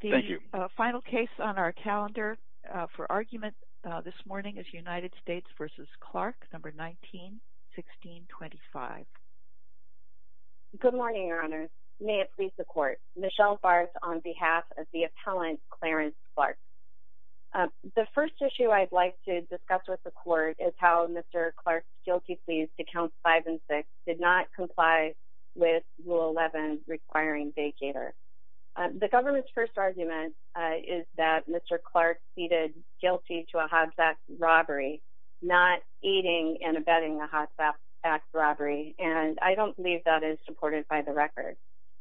The final case on our calendar for argument this morning is United States v. Clark, 19-1625. Good morning, Your Honors. May it please the Court. Michelle Farris on behalf of the appellant Clarence Clark. The first issue I'd like to discuss with the Court is how Mr. Clark's guilty pleas to Counts 5 and 6 did not comply with Rule 11 requiring vacater. The government's first argument is that Mr. Clark pleaded guilty to a Hobbs Act robbery, not aiding and abetting a Hobbs Act robbery. And I don't believe that is supported by the record.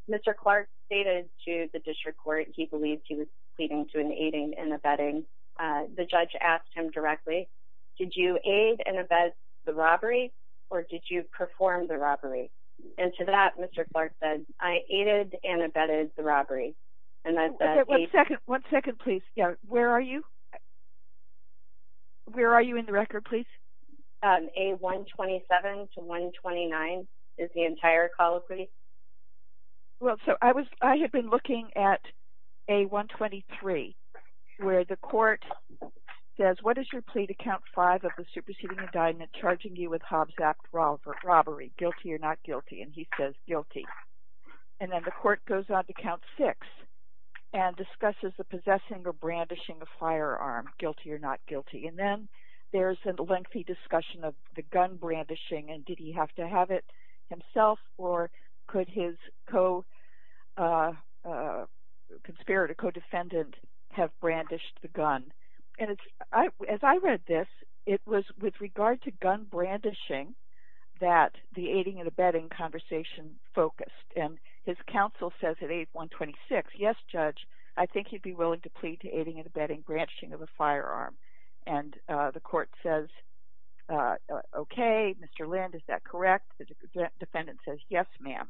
Mr. Clark stated to the District Court he believed he was pleading to an aiding and abetting. The judge asked him directly, did you aid and abet the robbery or did you perform the robbery? And to that Mr. Clark said, I aided and abetted the robbery. One second, one second please. Where are you? Where are you in the record please? A-127 to A-129 is the entire call of plea. Well, so I had been looking at A-123 where the Court says, what is your plea to Count 5 of the superseding indictment charging you with Hobbs Act robbery, guilty or not guilty? And he says guilty. And then the Court goes on to Count 6 and discusses the possessing or brandishing of firearm, guilty or not guilty. And then there is a lengthy discussion of the gun brandishing and did he have to have it himself or could his co-conspirator, co-defendant have brandished the gun? And as I read this, it was with regard to gun brandishing that the aiding and abetting conversation focused. And his counsel says at A-126, yes Judge, I think he'd be willing to plead to aiding and abetting branching of a firearm. And the Court says, okay, Mr. Lind, is that correct? The defendant says, yes ma'am.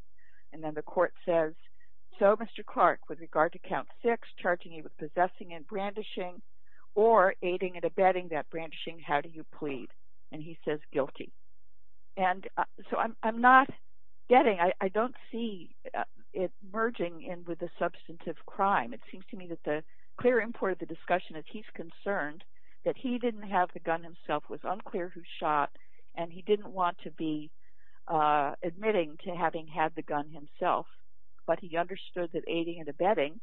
And then the Court says, so Mr. Clark, with regard to Count 6, charging you with possessing and brandishing or aiding and abetting that brandishing, how do you plead? And he says guilty. And so I'm not getting, I don't see it merging in with the substantive crime. It seems to me that the clear import of the discussion is he's concerned that he didn't have the gun himself, was unclear who shot, and he didn't want to be admitting to having had the gun himself. But he understood that aiding and abetting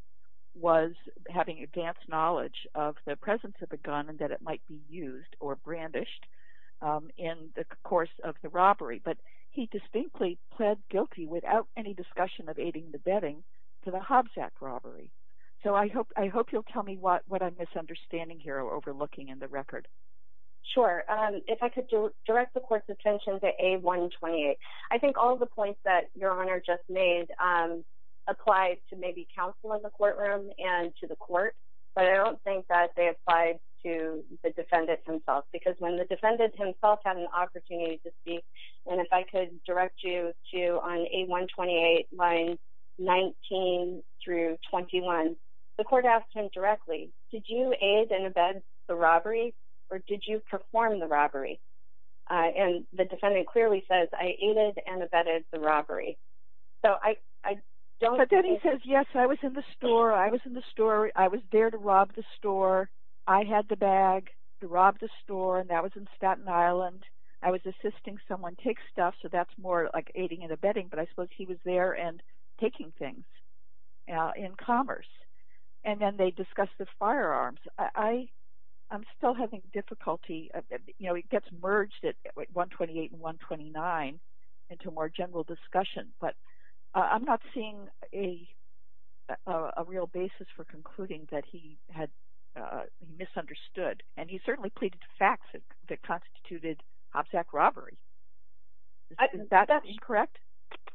was having advanced knowledge of the presence of a gun and that it might be used or brandished in the course of the robbery. But he distinctly pled guilty without any discussion of aiding and abetting to the Hobbs Act robbery. So I hope you'll tell me what I'm misunderstanding here or overlooking in the record. Sure. If I could direct the Court's attention to A128. I think all the points that Your Honor just made apply to maybe counsel in the courtroom and to the Court, but I don't think that they apply to the defendant himself. Because when the defendant himself had an opportunity to speak, and if I could direct you to on A128, lines 19 through 21, the Court asked him directly, did you aid and abet the robbery or did you perform the robbery? And the defendant clearly says, I aided and abetted the robbery. But then he says, yes, I was in the store. I was in the store. I was there to rob the store. I had the bag to rob the store, and that was in Staten Island. I was assisting someone take stuff, so that's more like aiding and abetting, but I suppose he was there and taking things in commerce. And then they discuss the firearms. I'm still having difficulty. It gets merged at A128 and A129 into more general discussion, but I'm not seeing a real basis for concluding that he misunderstood. And he certainly pleaded facts that constituted hopsack robbery. Is that correct?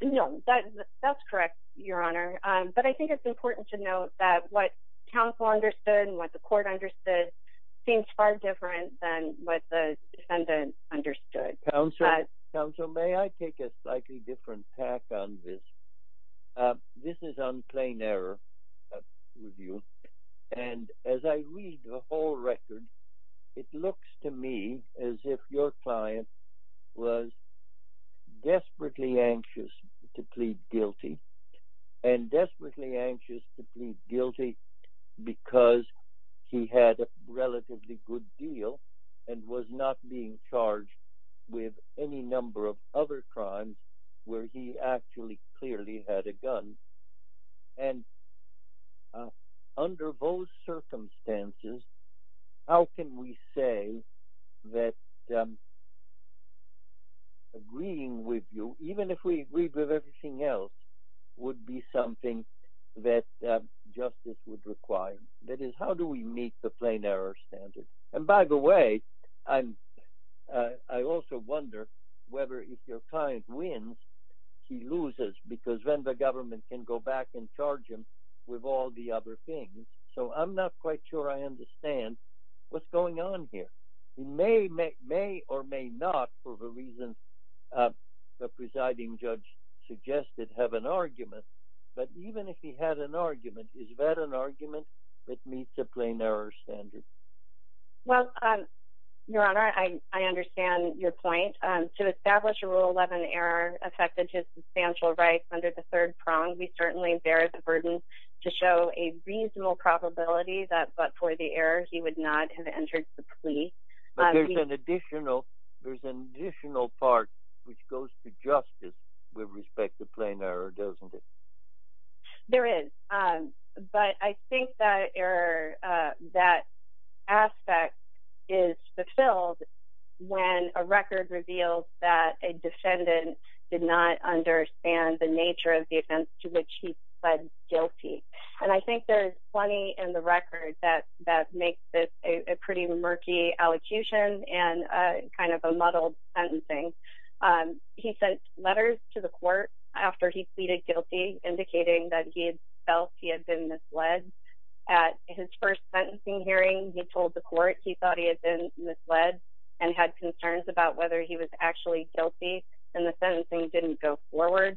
No, that's correct, Your Honor. But I think it's important to note that what counsel understood and what the Court understood seems far different than what the defendant understood. Counsel, may I take a slightly different tack on this? This is on plain error review, and as I read the whole record, it looks to me as if your client was desperately anxious to plead guilty, and desperately anxious to plead guilty because he had a relatively good deal and was not being charged with any number of other crimes where he actually clearly had a gun. And under those circumstances, how can we say that agreeing with you, even if we agreed with everything else, would be something that justice would require? That is, how do we meet the plain error standard? And by the way, I also wonder whether if your client wins, he loses because then the government can go back and charge him with all the other things. So I'm not quite sure I understand what's going on here. He may or may not, for the reasons the presiding judge suggested, have an argument. But even if he had an argument, is that an argument that meets a plain error standard? Well, Your Honor, I understand your point. To establish a Rule 11 error affected his substantial rights under the third prong, we certainly bear the burden to show a reasonable probability that but for the error, he would not have entered the plea. But there's an additional part which goes to justice with respect to plain error, doesn't it? There is. But I think that error, that aspect, is fulfilled when a record reveals that a defendant did not understand the nature of the offense to which he pled guilty. And I think there's plenty in the record that makes this a pretty murky allocution and kind of a muddled sentencing. He sent letters to the court after he pleaded guilty, indicating that he had felt he had been misled. At his first sentencing hearing, he told the court he thought he had been misled and had concerns about whether he was actually guilty, and the sentencing didn't go forward.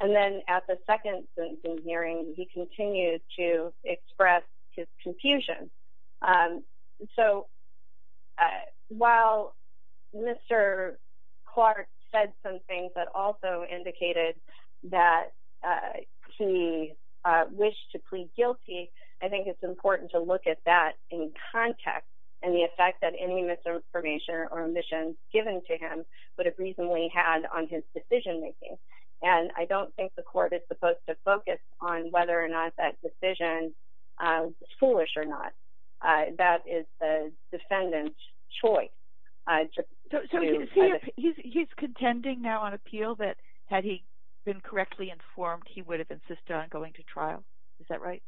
And then at the second sentencing hearing, he continued to express his confusion. So while Mr. Clark said some things that also indicated that he wished to plead guilty, I think it's important to look at that in context and the effect that any misinformation or omissions given to him would have reasonably had on his decision making. And I don't think the court is supposed to focus on whether or not that decision is foolish or not. That is the defendant's choice. So he's contending now on appeal that had he been correctly informed, he would have insisted on going to trial. Is that right?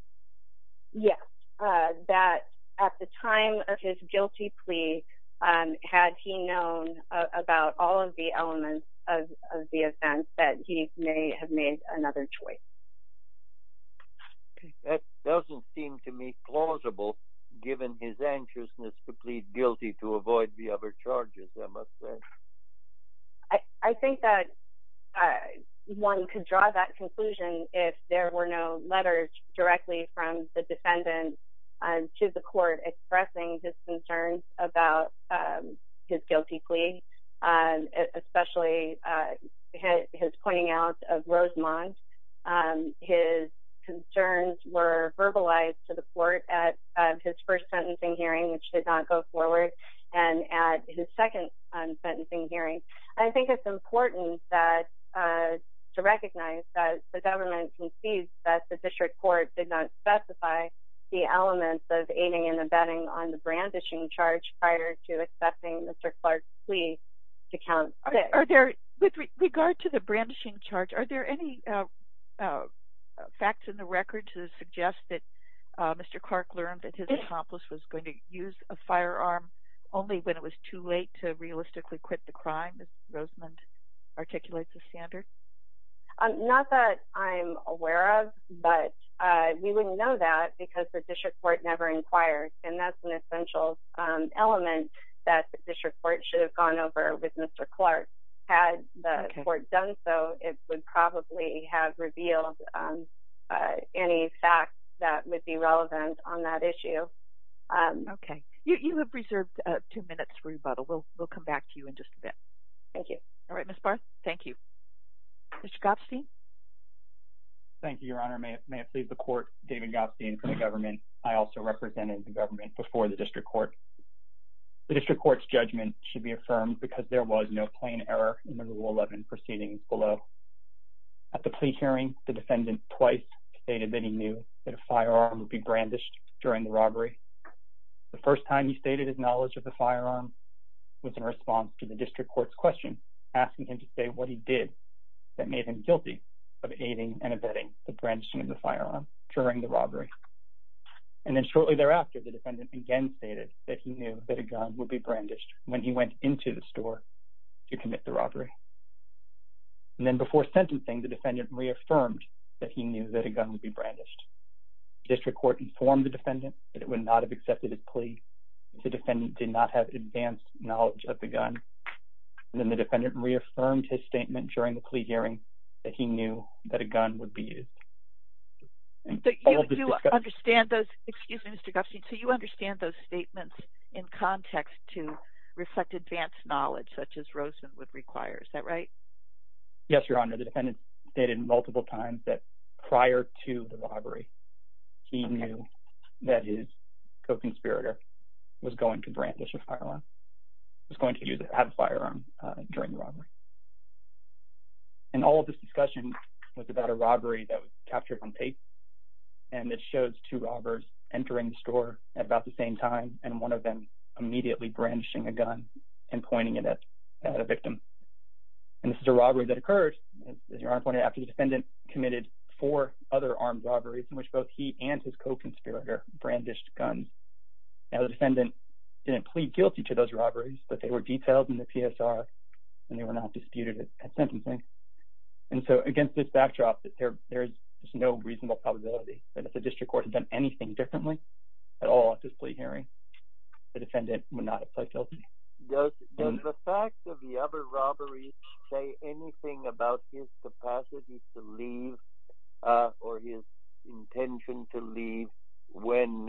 Yes. That at the time of his guilty plea, had he known about all of the elements of the offense, that he may have made another choice. That doesn't seem to me plausible, given his anxiousness to plead guilty to avoid the other charges, I must say. I think that one could draw that conclusion if there were no letters directly from the defendant to the court expressing his concerns about his guilty plea, especially his pointing out of Rosemont. His concerns were verbalized to the court at his first sentencing hearing, which did not go forward, and at his second sentencing hearing. I think it's important to recognize that the government concedes that the district court did not specify the elements of aiding and abetting on the brandishing charge prior to accepting Mr. Clark's plea to count six. With regard to the brandishing charge, are there any facts in the record to suggest that Mr. Clark learned that his accomplice was going to use a firearm only when it was too late to realistically quit the crime, as Rosemont articulates the standard? Not that I'm aware of, but we wouldn't know that because the district court never inquired, and that's an essential element that the district court should have gone over with Mr. Clark. Had the court done so, it would probably have revealed any facts that would be relevant on that issue. Okay. You have reserved two minutes for rebuttal. We'll come back to you in just a bit. Thank you. All right, Ms. Barth. Thank you. Mr. Gopstein? Thank you, Your Honor. May it please the court, David Gopstein for the government. I also represented the government before the district court. The district court's judgment should be affirmed because there was no plain error in the Rule 11 proceedings below. At the plea hearing, the defendant twice stated that he knew that a firearm would be brandished during the robbery. The first time he stated his knowledge of the firearm was in response to the district court's question, asking him to say what he did that made him guilty of aiding and abetting the brandishing of the firearm during the robbery. And then shortly thereafter, the defendant again stated that he knew that a gun would be brandished when he went into the store to commit the robbery. And then before sentencing, the defendant reaffirmed that he knew that a gun would be brandished. District court informed the defendant that it would not have accepted his plea. The defendant did not have advanced knowledge of the gun. And then the defendant reaffirmed his statement during the plea hearing that he knew that a gun would be used. Do you understand those – excuse me, Mr. Gopstein – do you understand those statements in context to reflect advanced knowledge such as Rosenwood requires? Is that right? Yes, Your Honor, the defendant stated multiple times that prior to the robbery, he knew that his co-conspirator was going to brandish a firearm, was going to have a firearm during the robbery. And all of this discussion was about a robbery that was captured on tape, and it shows two robbers entering the store at about the same time and one of them immediately brandishing a gun and pointing it at a victim. And this is a robbery that occurred, as Your Honor pointed out, after the defendant committed four other armed robberies in which both he and his co-conspirator brandished guns. Now, the defendant didn't plead guilty to those robberies, but they were detailed in the PSR and they were not disputed at sentencing. And so against this backdrop, there is no reasonable probability that if the district court had done anything differently at all at this plea hearing, the defendant would not have pled guilty. Does the fact of the other robberies say anything about his capacity to leave or his intention to leave when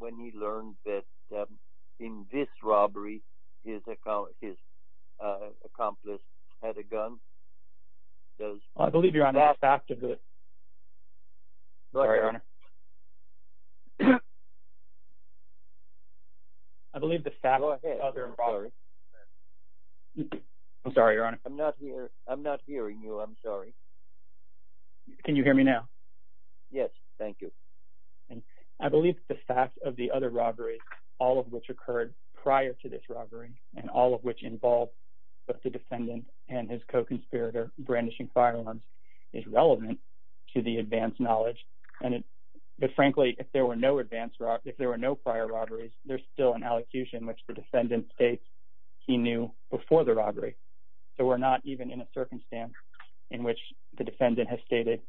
he learned that in this robbery his accomplice had a gun? I believe, Your Honor, the fact of the… Go ahead. I'm sorry, Your Honor. I'm not hearing you. I'm sorry. Can you hear me now? Yes, thank you. I believe the fact of the other robberies, all of which occurred prior to this robbery and all of which involved both the defendant and his co-conspirator brandishing firearms is relevant to the advanced knowledge. But frankly, if there were no prior robberies, there's still an allocution which the defendant states he knew before the robbery. So we're not even in a circumstance in which the defendant has stated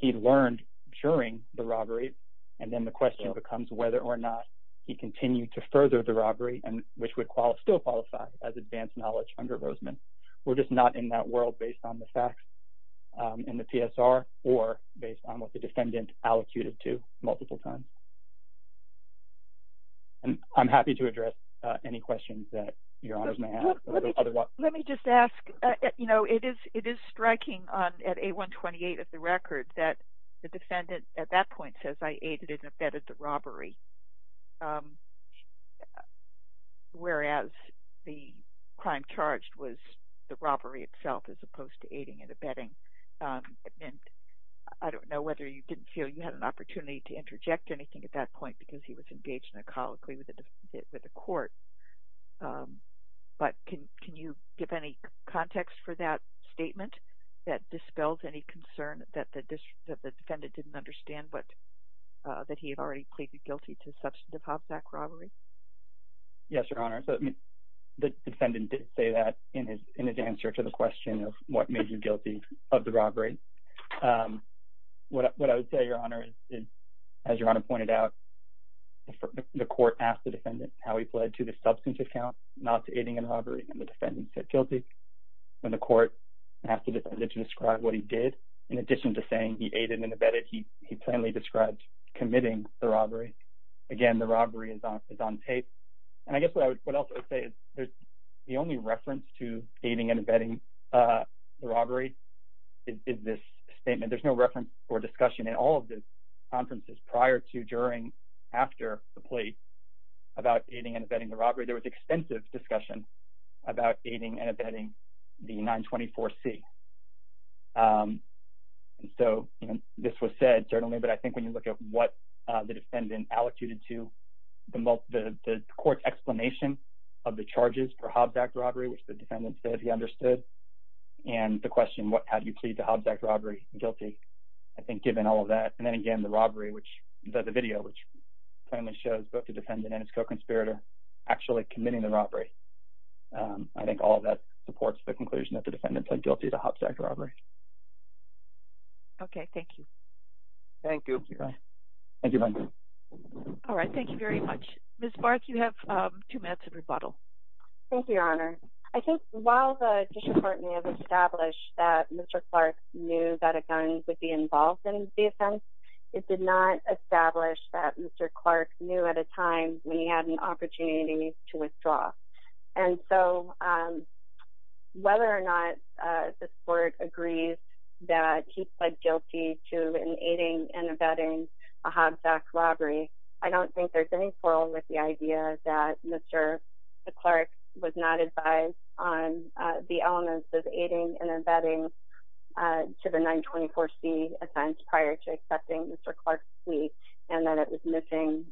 he learned during the robbery, and then the question becomes whether or not he continued to further the robbery, which would still qualify as advanced knowledge under Roseman. We're just not in that world based on the facts in the PSR or based on what the defendant allocated to multiple times. And I'm happy to address any questions that Your Honors may have. Let me just ask, you know, it is striking at 8128 of the record that the defendant at that point says, I aided and abetted the robbery, whereas the crime charged was the robbery itself as opposed to aiding and abetting. And I don't know whether you didn't feel you had an opportunity to interject anything at that point because he was engaged in a colloquy with the court. But can you give any context for that statement that dispels any concern that the defendant didn't understand that he had already pleaded guilty to substantive Hovzack robbery? Yes, Your Honor. So the defendant did say that in his answer to the question of what made you guilty of the robbery. What I would say, Your Honor, is as Your Honor pointed out, the court asked the defendant how he pled to the substantive count, not to aiding and robbery, and the defendant said guilty. When the court asked the defendant to describe what he did, in addition to saying he aided and abetted, he plainly described committing the robbery. Again, the robbery is on tape. And I guess what else I would say is the only reference to aiding and abetting the robbery is this statement. There's no reference or discussion in all of the conferences prior to, during, after the plea about aiding and abetting the robbery. There was extensive discussion about aiding and abetting the 924C. And so this was said, certainly, but I think when you look at what the defendant allocated to the court's explanation of the charges for Hovzack robbery, which the defendant said he understood, and the question, how do you plead the Hovzack robbery guilty, I think given all of that. And then again, the robbery, the video, which plainly shows both the defendant and his co-conspirator actually committing the robbery. I think all of that supports the conclusion that the defendant said guilty to Hovzack robbery. Okay, thank you. Thank you. Thank you. All right, thank you very much. Ms. Bark, you have two minutes of rebuttal. Thank you, Your Honor. I think while the district court may have established that Mr. Clark knew that a gun would be involved in the offense, it did not establish that Mr. Clark knew at a time when he had an opportunity to withdraw. And so whether or not this court agrees that he pled guilty to an aiding and abetting a Hovzack robbery, I don't think there's any quarrel with the idea that Mr. Clark was not advised on the elements of aiding and abetting to the 924C offense prior to accepting Mr. Clark's plea, and that it was missing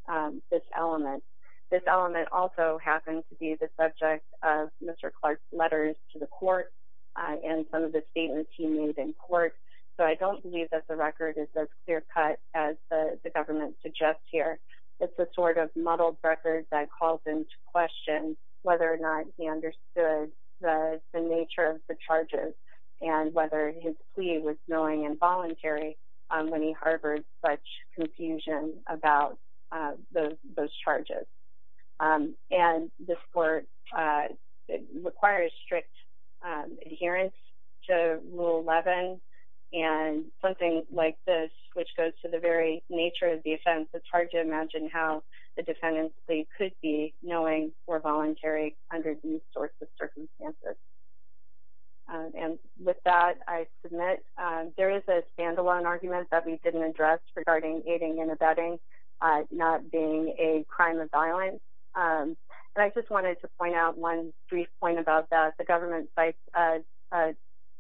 this element. This element also happens to be the subject of Mr. Clark's letters to the court and some of the statements he made in court, so I don't believe that the record is as clear cut as the government suggests here. It's a sort of muddled record that calls into question whether or not he understood the nature of the charges and whether his plea was knowing and voluntary when he harbored such confusion about those charges. And this court requires strict adherence to Rule 11 and something like this, which goes to the very nature of the offense, it's hard to imagine how the defendant's plea could be knowing or voluntary under these sorts of circumstances. And with that, I submit there is a standalone argument that we didn't address regarding aiding and abetting not being a crime of violence, and I just wanted to point out one brief point about that. The government cites a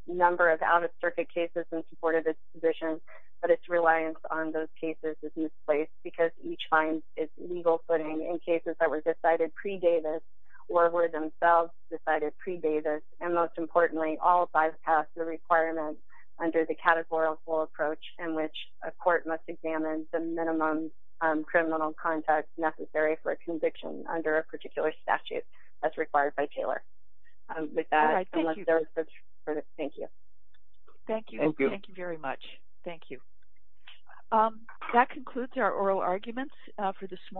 number of out-of-circuit cases in support of its position, but its reliance on those cases is misplaced because each finds its legal footing in cases that were decided pre-Davis or were themselves decided pre-Davis, and most importantly, all bypass the requirement under the categorical approach in which a court must examine the minimum criminal context necessary for a conviction under a particular statute as required by Taylor. With that, thank you. Thank you. Thank you very much. Thank you. That concludes our oral arguments for this morning.